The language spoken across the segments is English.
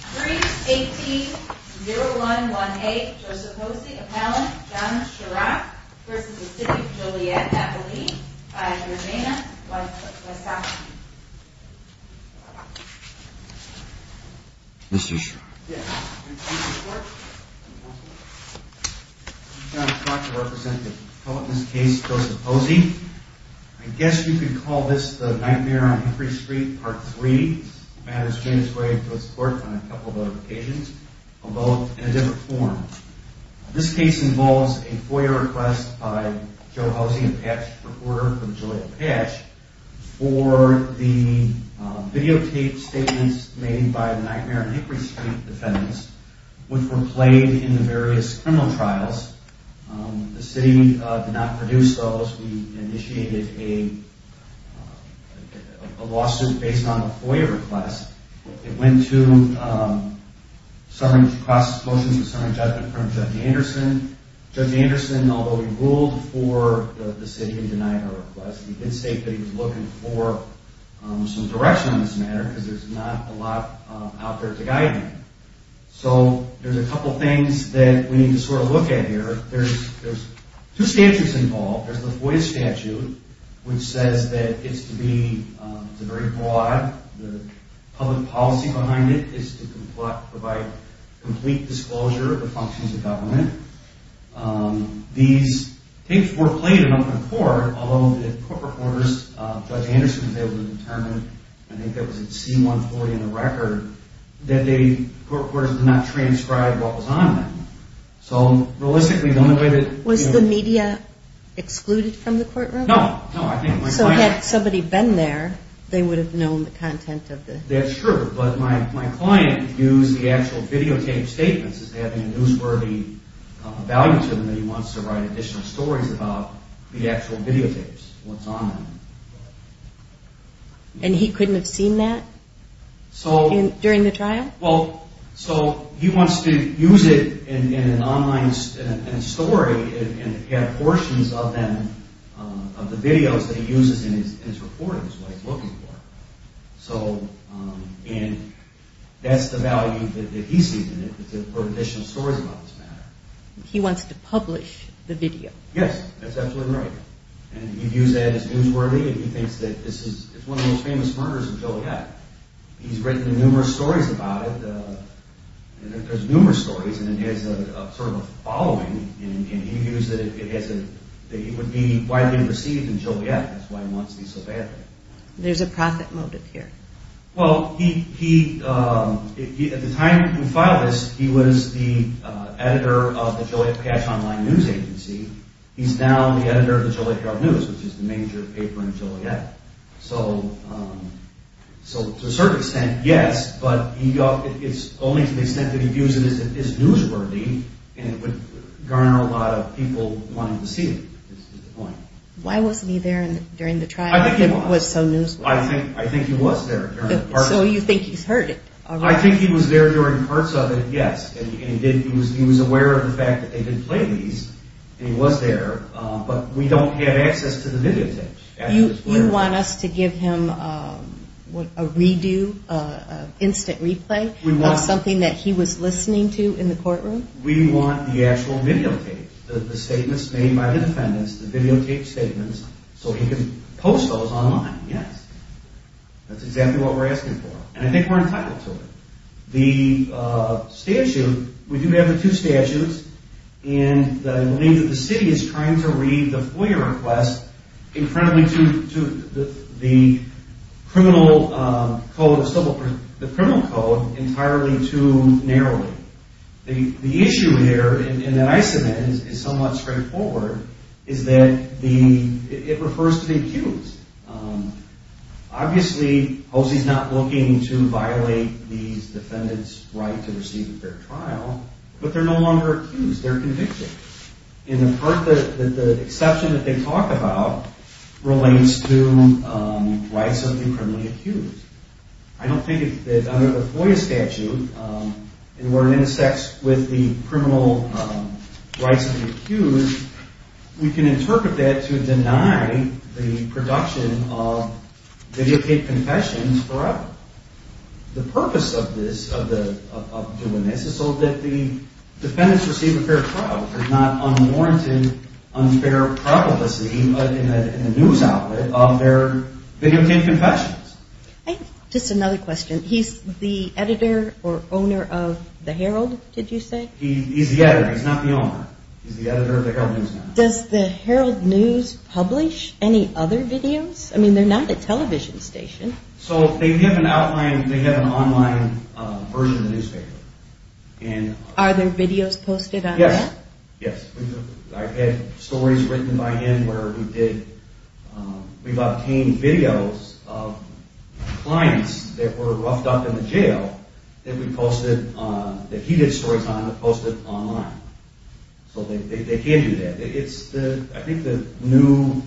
3-18-0118 Joseph Hosey, appellant, John Chirac v. City of Joliet, Napoli, by Germaina Guastavini Mr. Chirac I'm John Chirac, I represent the public in this case, Joseph Hosey I guess you could call this the nightmare on Hickory Street Part 3 This case involves a FOIA request by Joe Hosey, a patch reporter for Joliet Patch for the videotaped statements made by the Nightmare on Hickory Street defendants which were played in the various criminal trials The city did not produce those, we initiated a lawsuit based on a FOIA request It went to a cross-supposed and summary judgment from Judge Anderson Judge Anderson, although he ruled for the city in denying our request he did state that he was looking for some direction on this matter because there's not a lot out there to guide him So there's a couple things that we need to sort of look at here There's two statutes involved, there's the FOIA statute which says that it's to be, it's very broad the public policy behind it is to provide complete disclosure of the functions of government These tapes were played in open court, although the court reporters, Judge Anderson was able to determine, I think that was at C-140 in the record that the court reporters did not transcribe what was on them So realistically, the only way that... Was the media excluded from the courtroom? No, no, I think my client... So had somebody been there, they would have known the content of the... That's true, but my client used the actual videotaped statements as having a newsworthy value to them that he wants to write additional stories about the actual videotapes, what's on them And he couldn't have seen that? So... During the trial? Well, so he wants to use it in an online story and get portions of them, of the videos that he uses in his reporting is what he's looking for So, and that's the value that he sees in it is to put additional stories about this matter He wants to publish the video? Yes, that's absolutely right And he views that as newsworthy and he thinks that this is It's one of the most famous murders of Joliet He's written numerous stories about it There's numerous stories and it has sort of a following And he views that it would be widely received in Joliet That's why he wants these so badly There's a profit motive here Well, he... At the time he filed this, he was the editor of the Joliet Cash Online News Agency He's now the editor of the Joliet Herald News which is the major paper in Joliet So, to a certain extent, yes But it's only to the extent that he views it as newsworthy and it would garner a lot of people wanting to see it Why wasn't he there during the trial? I think he was I think he was there So you think he's heard it? I think he was there during parts of it, yes He was aware of the fact that they did play these and he was there But we don't have access to the videotapes You want us to give him a redo, an instant replay of something that he was listening to in the courtroom? We want the actual videotapes The statements made by the defendants The videotape statements So he can post those online, yes That's exactly what we're asking for And I think we're entitled to it The statute... We do have the two statutes And I believe that the city is trying to read the FOIA request incredibly to the criminal code entirely too narrowly The issue there, and that I submit, is somewhat straightforward is that it refers to the accused Obviously, Hosea's not looking to violate these defendants' right to receive a fair trial But they're no longer accused, they're convicted And the exception that they talk about relates to rights of the criminally accused I don't think that under the FOIA statute where it intersects with the criminal rights of the accused we can interpret that to deny the production of videotaped confessions forever The purpose of doing this is so that the defendants receive a fair trial There's not unwarranted unfair probability in the news outlet of their videotaped confessions Just another question He's the editor or owner of the Herald, did you say? He's the editor, he's not the owner He's the editor of the Herald News Network Does the Herald News publish any other videos? I mean, they're not a television station So they have an online version of the newspaper Are there videos posted on that? Yes, I've had stories written by him where we've obtained videos of clients that were roughed up in the jail that he did stories on and posted online So they can do that I think the new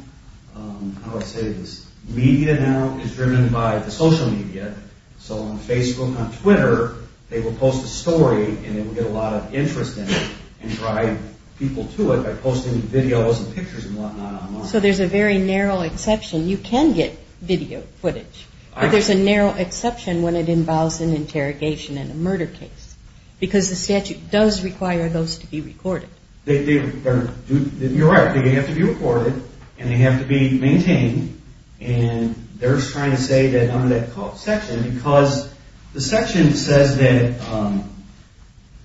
media now is driven by the social media So on Facebook, on Twitter they will post a story and they will get a lot of interest in it and drive people to it by posting videos and pictures and whatnot online So there's a very narrow exception You can get video footage but there's a narrow exception when it involves an interrogation and a murder case because the statute does require those to be recorded You're right, they have to be recorded and they have to be maintained and they're trying to say that under that section because the section says that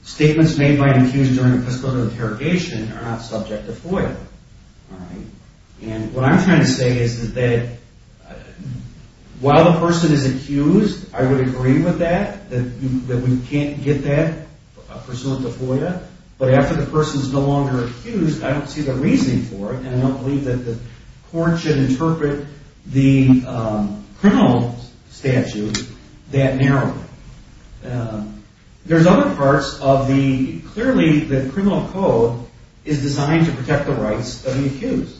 statements made by an accused during a fiscal year interrogation are not subject to FOIA and what I'm trying to say is that while the person is accused I would agree with that that we can't get that pursuant to FOIA but after the person is no longer accused I don't see the reasoning for it and I don't believe that the court should interpret the criminal statute that narrowly There's other parts of the clearly the criminal code is designed to protect the rights of the accused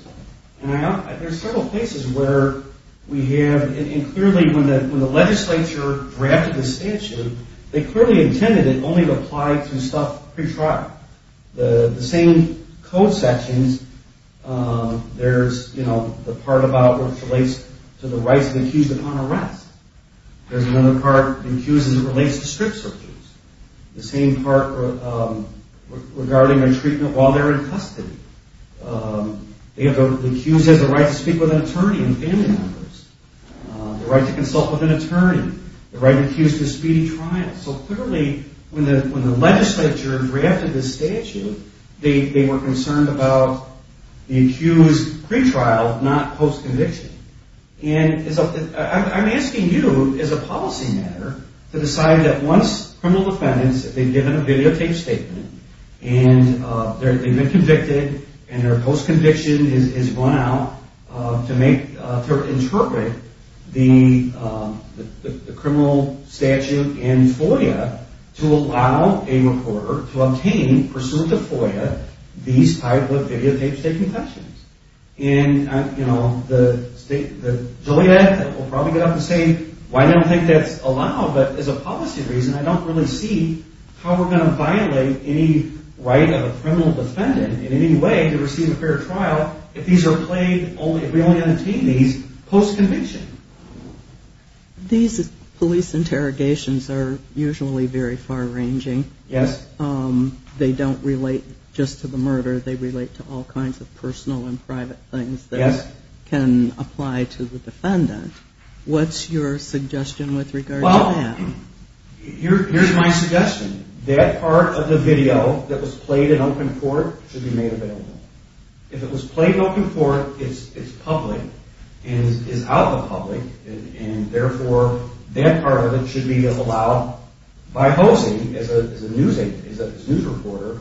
There's several places where we have, and clearly when the legislature drafted the statute they clearly intended it only to apply to stuff pre-trial The same code sections There's the part about which relates to the rights of the accused upon arrest There's another part in accused that relates to strict searches The same part regarding their treatment while they're in custody The accused has the right to speak with an attorney and family members The right to consult with an attorney The right to be accused of a speedy trial So clearly when the legislature drafted the statute they were concerned about the accused pre-trial not post-conviction I'm asking you as a policy matter to decide that once criminal defendants have given a videotaped statement and they've been convicted and their post-conviction is run out to interpret the criminal statute and FOIA to allow a reporter to obtain, pursuant to FOIA these type of videotaped state confessions and you know the state will probably get up and say I don't think that's allowed but as a policy reason I don't really see how we're going to violate any right of a criminal defendant in any way to receive a fair trial if we only entertain these post-conviction These police interrogations are usually very far-ranging Yes They don't relate just to the murder they relate to all kinds of personal and private things that can apply to the defendant What's your suggestion with regard to that? Well, here's my suggestion That part of the video that was played in open court should be made available If it was played in open court it's public and is out of the public and therefore that part of it should be allowed by posing as a news agent as a news reporter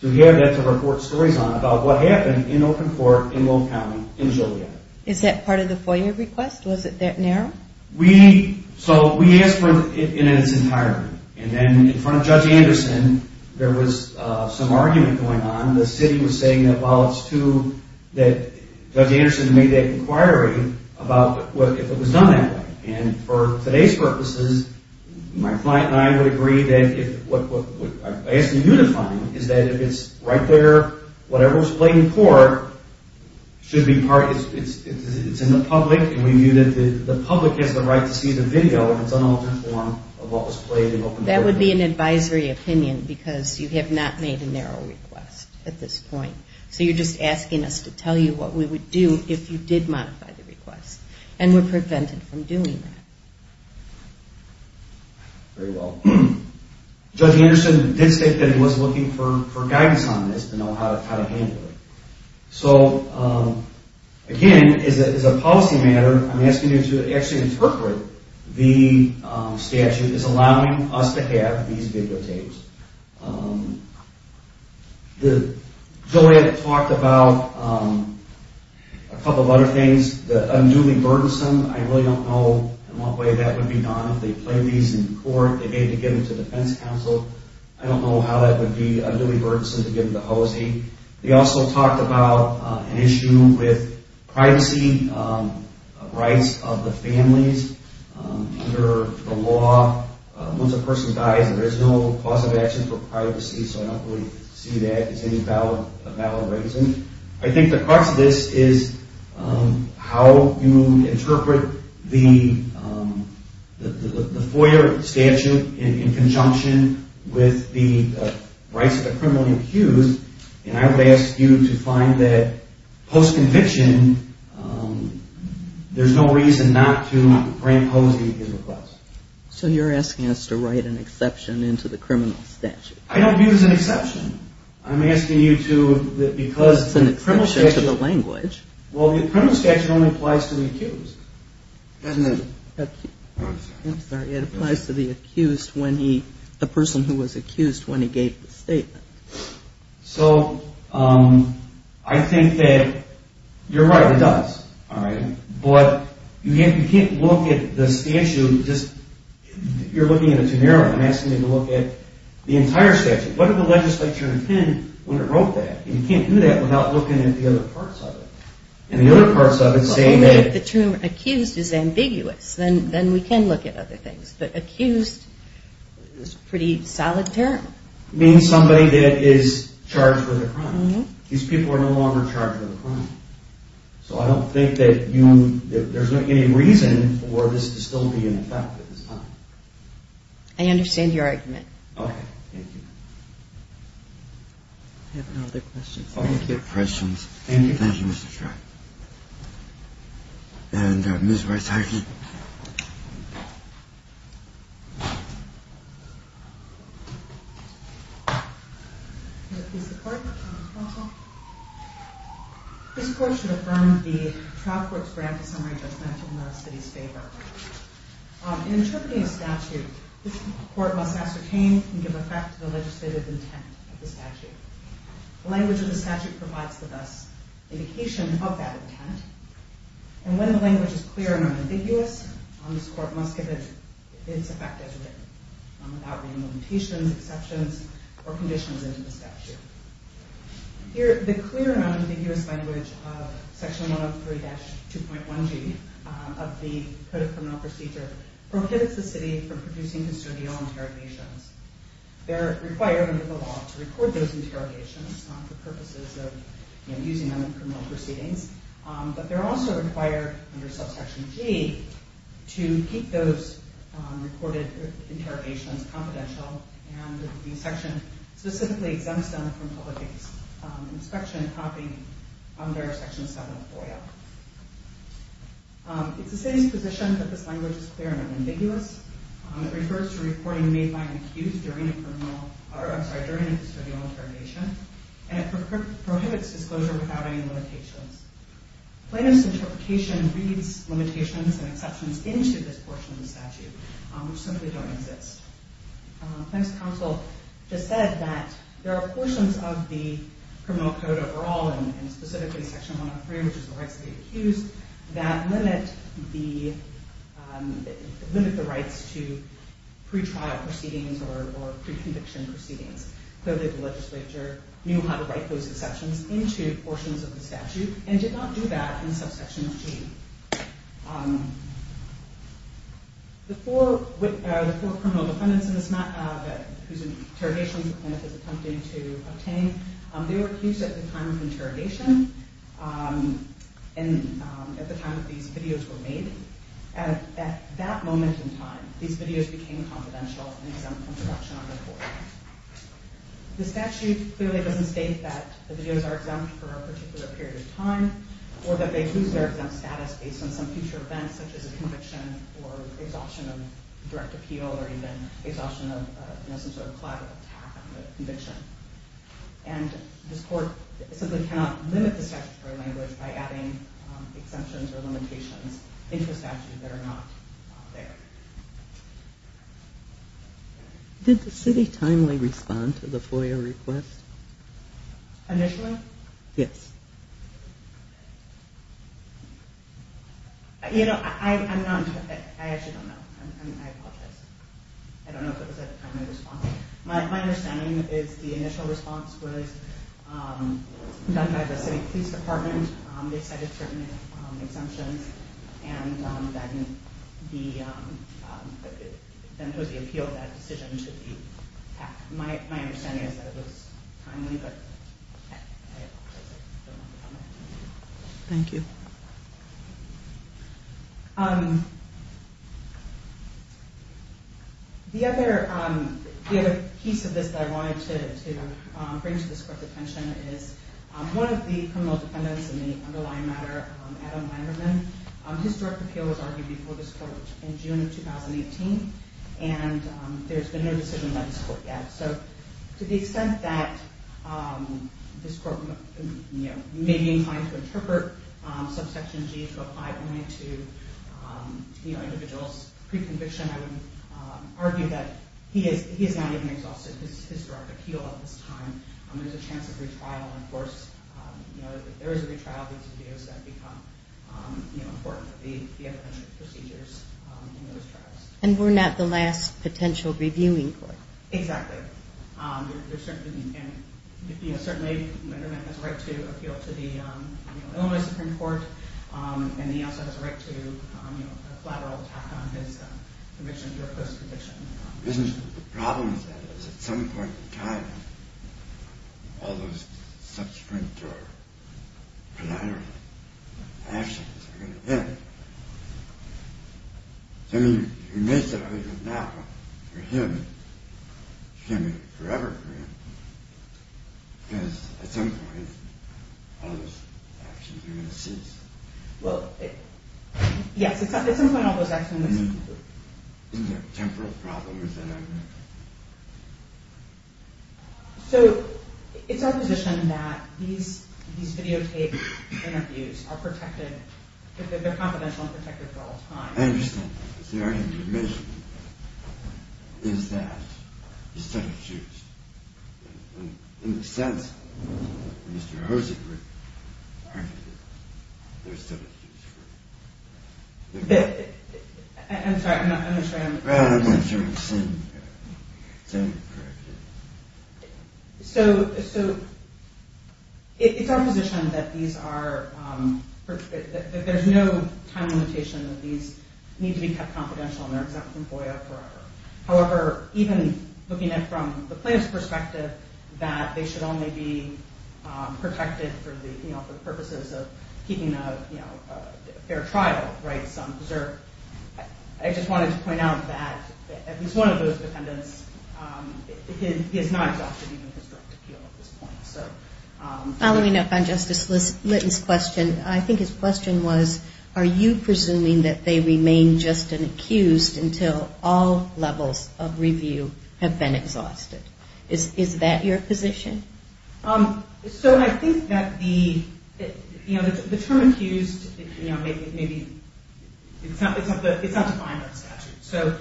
to have that to report stories on about what happened in open court in Lone County in Joliet Is that part of the FOIA request? Was it that narrow? We asked for it in its entirety and then in front of Judge Anderson there was some argument going on the city was saying that Judge Anderson made that inquiry about if it was done that way and for today's purposes my client and I would agree that what I'm asking you to find is that if it's right there whatever was played in court should be part it's in the public and we view that the public has the right to see the video in its unaltered form of what was played in open court That would be an advisory opinion because you have not made a narrow request at this point So you're just asking us to tell you what we would do if you did modify the request and we're prevented from doing that Very well Judge Anderson did state that he was looking for guidance on this to know how to handle it So again, as a policy matter I'm asking you to actually interpret the statute as allowing us to have these videotapes The Joliet talked about a couple of other things the unduly burdensome I really don't know in what way that would be done if they played these in court to get them to defense counsel I don't know how that would be to get them to Hosea They also talked about an issue with privacy rights of the families under the law Once a person dies there's no cause of action for privacy so I don't see that as any valid reason I think the crux of this is how you interpret the FOIA statute in conjunction with the rights of the criminally accused and I would ask you to find that post-conviction there's no reason not to grant Hosea his request So you're asking us to write an exception into the criminal statute I don't view it as an exception I'm asking you to It's an exception to the language Well the criminal statute only applies to the accused Doesn't it? I'm sorry It applies to the accused when he the person who was accused when he gave the statement So I think that you're right it does but you can't look at the statute you're looking at it too narrowly I'm asking you to look at the entire statute What did the legislature intend when it wrote that? You can't do that without looking at the other parts of it Only if the term accused is ambiguous then we can look at other things but accused is a pretty solid term It means somebody that is charged with a crime These people are no longer charged with a crime So I don't think that there's any reason for this to still be in effect at this time I understand your argument Okay, thank you I have no other questions Thank you, Mr. Shry And Ms. Weisheit Thank you This court should affirm the trial court's grant of summary judgment in the city's favor In interpreting a statute this court must ascertain and give effect to the legislative intent of the statute The language of the statute provides the best indication of that intent And when the language is clear and unambiguous this court must give its effect as written without re-implementation exceptions or conditions into the statute Here, the clear and unambiguous language of section 103-2.1g of the Code of Criminal Procedure prohibits the city from producing custodial interrogations They're required under the law to record those interrogations for purposes of using them in criminal proceedings But they're also required under subsection g to keep those recorded interrogations confidential and the section specifically exempts them from public inspection copying under section 704-L It's the city's position that this language is clear and unambiguous It refers to reporting made by an accused during a criminal I'm sorry, during a custodial interrogation and it prohibits disclosure without any limitations Plaintiff's interpretation reads limitations and exceptions into this portion of the statute which simply don't exist Plaintiff's counsel just said that there are portions of the Criminal Code overall and specifically section 103 which is the rights of the accused that limit the limit the rights to pre-trial proceedings or pre-conviction proceedings. Clearly the legislature knew how to write those exceptions into portions of the statute and did not do that in subsection g The four criminal defendants whose interrogations Plaintiff is attempting to obtain they were accused at the time of the interrogation and at the time that these videos were made at that moment in time these videos became confidential and exempt from production on the court The statute clearly doesn't state that the videos are exempt for a particular period of time or that they lose their exempt status based on some future events such as a conviction or exhaustion of direct appeal or even exhaustion of some sort of collateral attack on the conviction and this court simply cannot limit the statutory language by adding exemptions or limitations into the statute that are not there Did the city timely respond to the FOIA request? Initially? Yes You know I'm not I actually don't know I don't know if it was a timely response My understanding is the initial response was done by the city police department they cited certain exemptions and then the then it was the appeal that decision to be my understanding is that it was timely but I don't know Thank you The other piece of this that I wanted to bring to this court's attention is one of the criminal defendants in the underlying matter Adam Weinerman His direct appeal was argued before this court in June of 2018 and there's been no decision by this court yet To the extent that this court may be inclined to interpret subsection G to apply only to individuals pre-conviction I would argue that he is not even exhausted his direct appeal at this time There's a chance of retrial of course there is a retrial of these videos that become important procedures in those trials And we're not the last potential reviewing court Exactly Certainly Weinerman has a right to appeal to the Illinois Supreme Court and he also has a right to a lateral attack on his conviction The problem is at some point in time all those subsequent or collateral actions are going to end I mean you may say that now but for him it's going to be forever because at some point all those actions are going to cease Well Yes, at some point all those actions are going to cease Is there a temporal problem with that? So it's our position that these videotaped interviews are protected they're confidential and protected for all time I understand that but the argument you're making is that instead of Jews in a sense Mr. Hosek argued that instead of Jews I'm sorry I'm not sure I understand So it's our position that these are there's no time limitation that these need to be kept confidential however even looking at it from the plaintiff's perspective that they should only be protected for the purposes of keeping a fair trial I just wanted to point out that at least one of those defendants is not exhausted at this point Following up on Justice Litton's question, I think his question was are you presuming that they remain just an accused until all levels of review have been exhausted Is that your position? So I think that the term accused it's not defined by the statute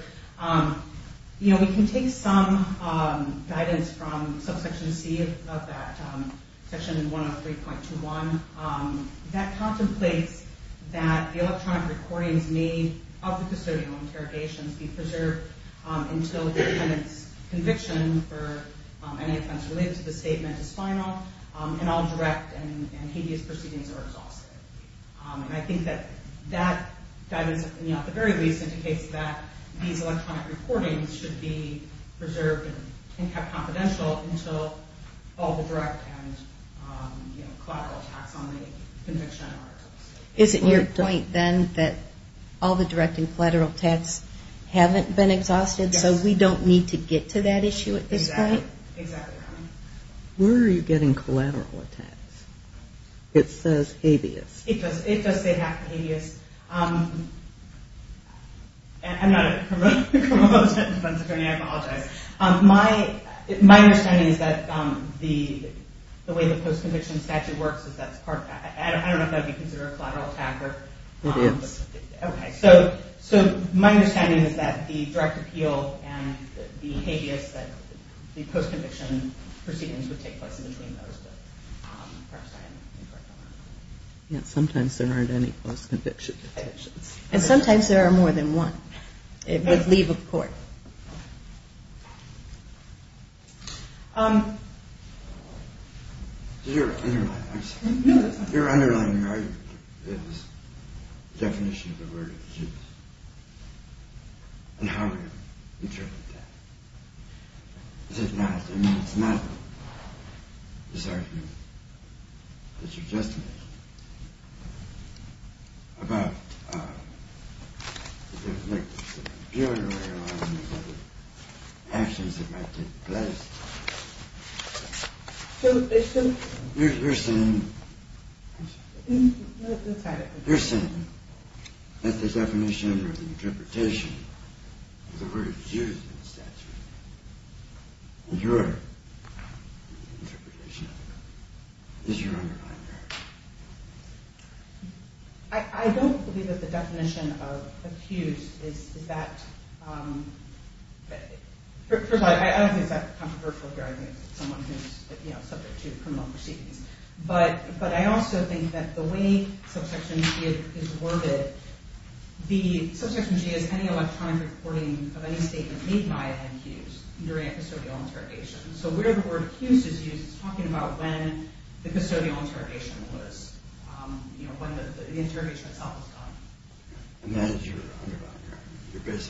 We can take some guidance from subsection C of that section 103.21 that contemplates that the electronic recordings made of the custodial interrogations be preserved until the defendant's conviction for any offense related to the statement is final and all direct and hideous proceedings are exhausted And I think that that guidance at the very least indicates that these electronic recordings should be preserved and kept confidential until all the direct and collateral attacks on the conviction are exhausted Is it your point then that all the direct and collateral attacks haven't been exhausted so we don't need to get to that issue at this point? Exactly. Where are you getting collateral attacks? It says hideous. It does say half the hideous I'm not a criminal defense attorney I apologize My understanding is that the way the post-conviction statute works, I don't know if that would be considered a collateral attack It is. So my understanding is that the direct appeal and the hideous case that the post-conviction proceedings would take place in between those Sometimes there aren't any post-conviction convictions And sometimes there are more than one It would leave a court You're underlining the definition of a verdict and how you interpret that It's not It's not the argument that you just made about the juridical actions that might take place You're saying You're saying that the definition or the interpretation of the word accused in the statute is your interpretation of it Is your underlining argument I don't believe that the definition of accused is that First of all I don't think it's that controversial here I think it's someone who's subject to criminal proceedings But I also think that the way subsection G is worded The subsection G is any electronic recording of any statement made by an accused during a custodial interrogation So where the word accused is used is talking about when the custodial interrogation was When the interrogation itself was done And that is your underlining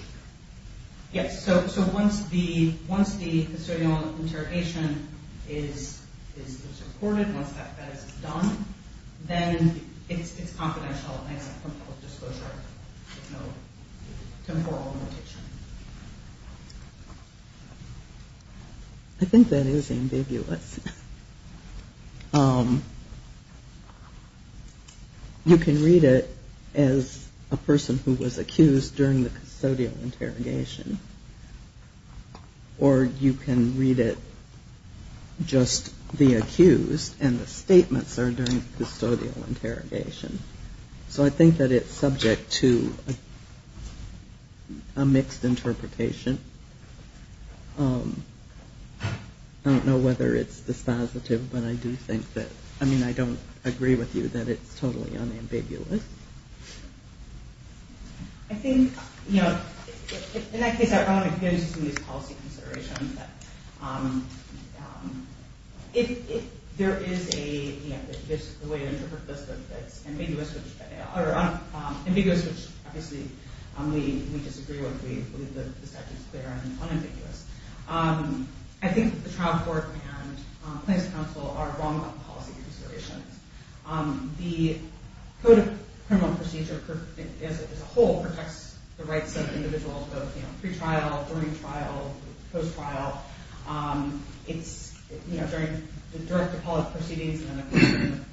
argument So once the custodial interrogation is recorded, once that is done Then it's confidential There's no temporal limitation I think that is ambiguous You can read it as a person who was accused during the custodial interrogation Or you can read it just the person accused and the statements are during custodial interrogation So I think that it's subject to a mixed interpretation I don't know whether it's dispositive, but I do think that I mean, I don't agree with you that it's totally unambiguous I think in that case, I don't want to get into these policy considerations There is a way to interpret this that it's ambiguous which obviously we disagree with, we believe the statute is clear and unambiguous I think the trial court and Plaintiff's counsel are wrong about policy considerations The Code of Criminal Procedure as a whole protects the rights of individuals both pre-trial, during trial post-trial It's during the direct appellate proceedings and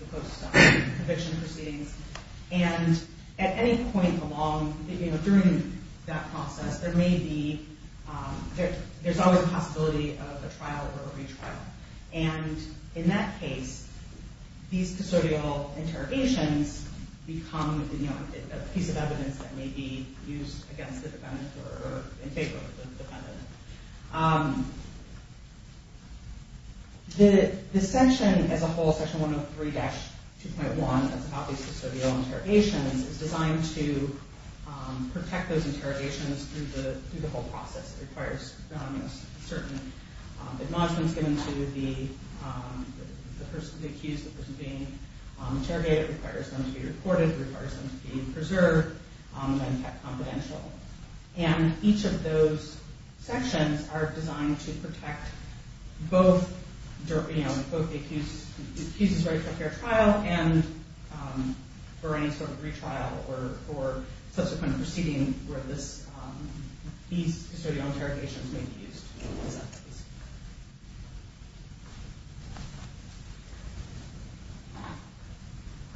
the post-conviction proceedings and at any point along during that process there may be there's always a possibility of a trial or a retrial and in that case these custodial interrogations become a piece of evidence that may be used against the defendant or in favor of the defendant The section as a whole, section 103-2.1 that's about these custodial interrogations is designed to protect those interrogations through the whole process It requires certain acknowledgments given to the person accused of being interrogated It requires them to be reported, it requires them to be preserved and kept confidential and each of those sections are designed to protect both both the accused's right to a fair trial and for any sort of retrial or subsequent proceeding where this these custodial interrogations may be used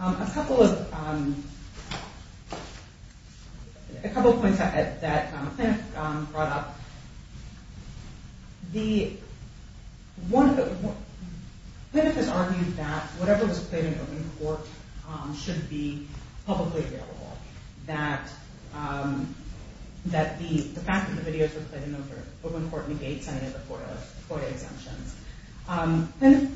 A couple of A couple of points that Pinnock brought up Pinnock has argued that whatever was played in open court should be publicly available that the fact that the videos were played in open court negates any of the FOIA exemptions Pinnock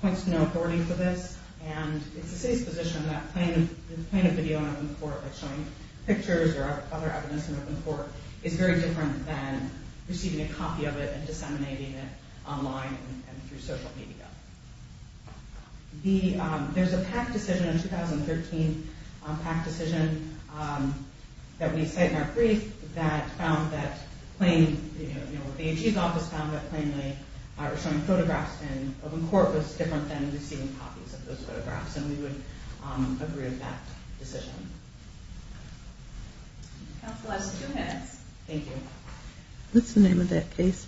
points to no authority for this and it's the city's position that playing a video in open court showing pictures or other evidence in open court is very different than receiving a copy of it and disseminating it online and through social media There's a PAC decision in 2013 PAC decision that we cite in our brief that found that the AG's office found that showing photographs in open court was different than receiving copies of those photographs and we would agree with that decision Thank you What's the name of that case?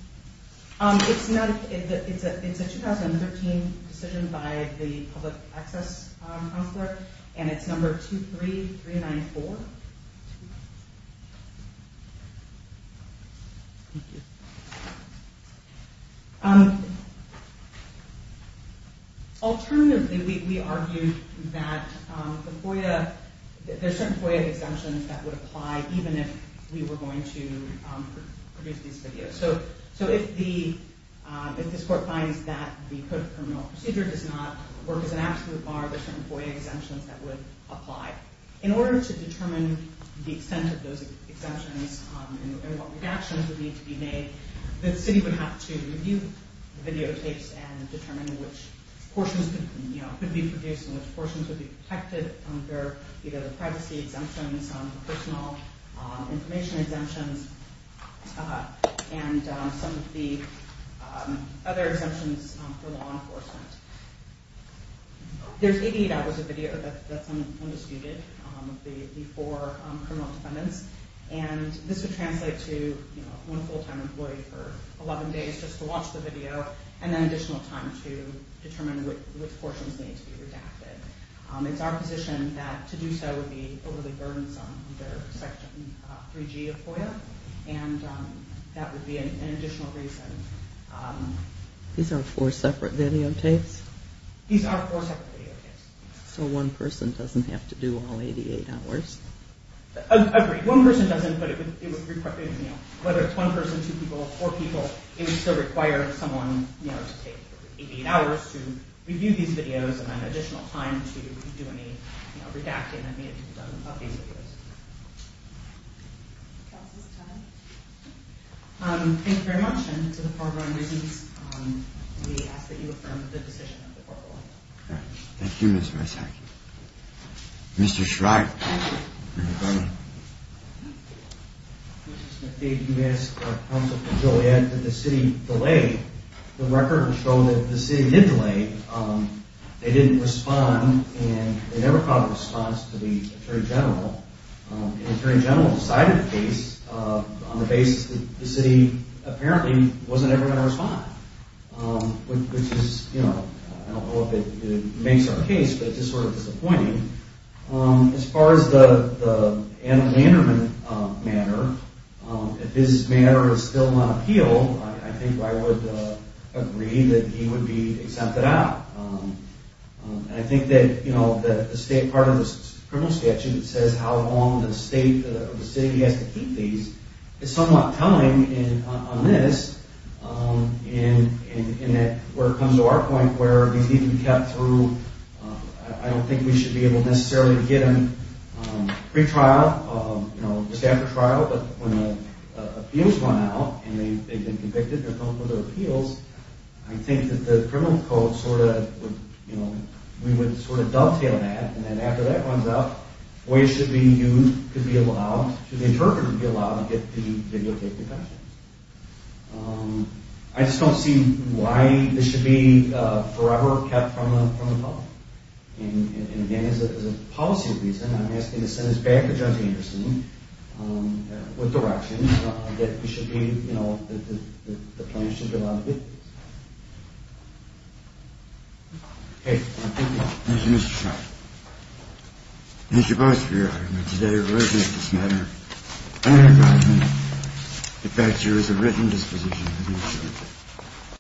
It's not It's a 2013 decision by the public access counselor and it's number 23394 Thank you Alternatively we argue that the FOIA there's certain FOIA exemptions that would apply even if we were going to produce these videos so if the court finds that the criminal procedure does not work as an absolute bar there's certain FOIA exemptions that would apply In order to determine the extent of those exemptions and what redactions would need to be made the city would have to review the videotapes and determine which portions could be produced and which portions would be protected under either the privacy exemptions, personal information exemptions and some of the other exemptions for law enforcement There's 88 That was a video that's undisputed of the four criminal defendants and this would translate to one full time employee for 11 days just to watch the video and then additional time to determine which portions need to be redacted It's our position that to do so would be overly burdensome under section 3G of FOIA and that would be an additional reason These are four separate videotapes? These are four separate videotapes So one person doesn't have to do all 88 hours? Agreed, one person doesn't but it would require, whether it's one person two people, four people, it would still require someone to take 88 hours to review these videos and then additional time to do any redacting that needed to be done of these videos Thank you very much and to the foreground reasons we ask that you affirm the decision of the court ruling Thank you Ms. Messack Mr. Shryock Mr. Smithee Mr. Smithee, you asked counsel for Joliet that the city delayed. The records show that the city did delay They didn't respond and they never got a response to the Attorney General The Attorney General decided the case on the basis that the city apparently wasn't ever going to respond which is I don't know if it makes our case but it's just sort of disappointing As far as the Anna Vanderman matter, if his matter is still on appeal I think I would agree that he would be exempted out I think that the state part of the criminal statute says how long the state or the city has to keep these It's somewhat telling on this in that where it comes to our point where these need to be kept through I don't think we should be able necessarily to get them pre-trial just after trial but when the appeals run out and they've been convicted and they're going for their appeals I think that the criminal code we would sort of dovetail that and then after that runs out boys should be used should be allowed, should the interpreter be allowed to get the videotaped defendants I just don't see why this should be forever kept from the public and again as a policy reason I'm asking to send this back to Judge Anderson with direction that it should be, you know that the plaintiffs should be allowed to get these Okay Thank you Thank you Mr. Schneider Thank you both for your honor today we're looking at this matter and I imagine it backs you as a written disposition to do so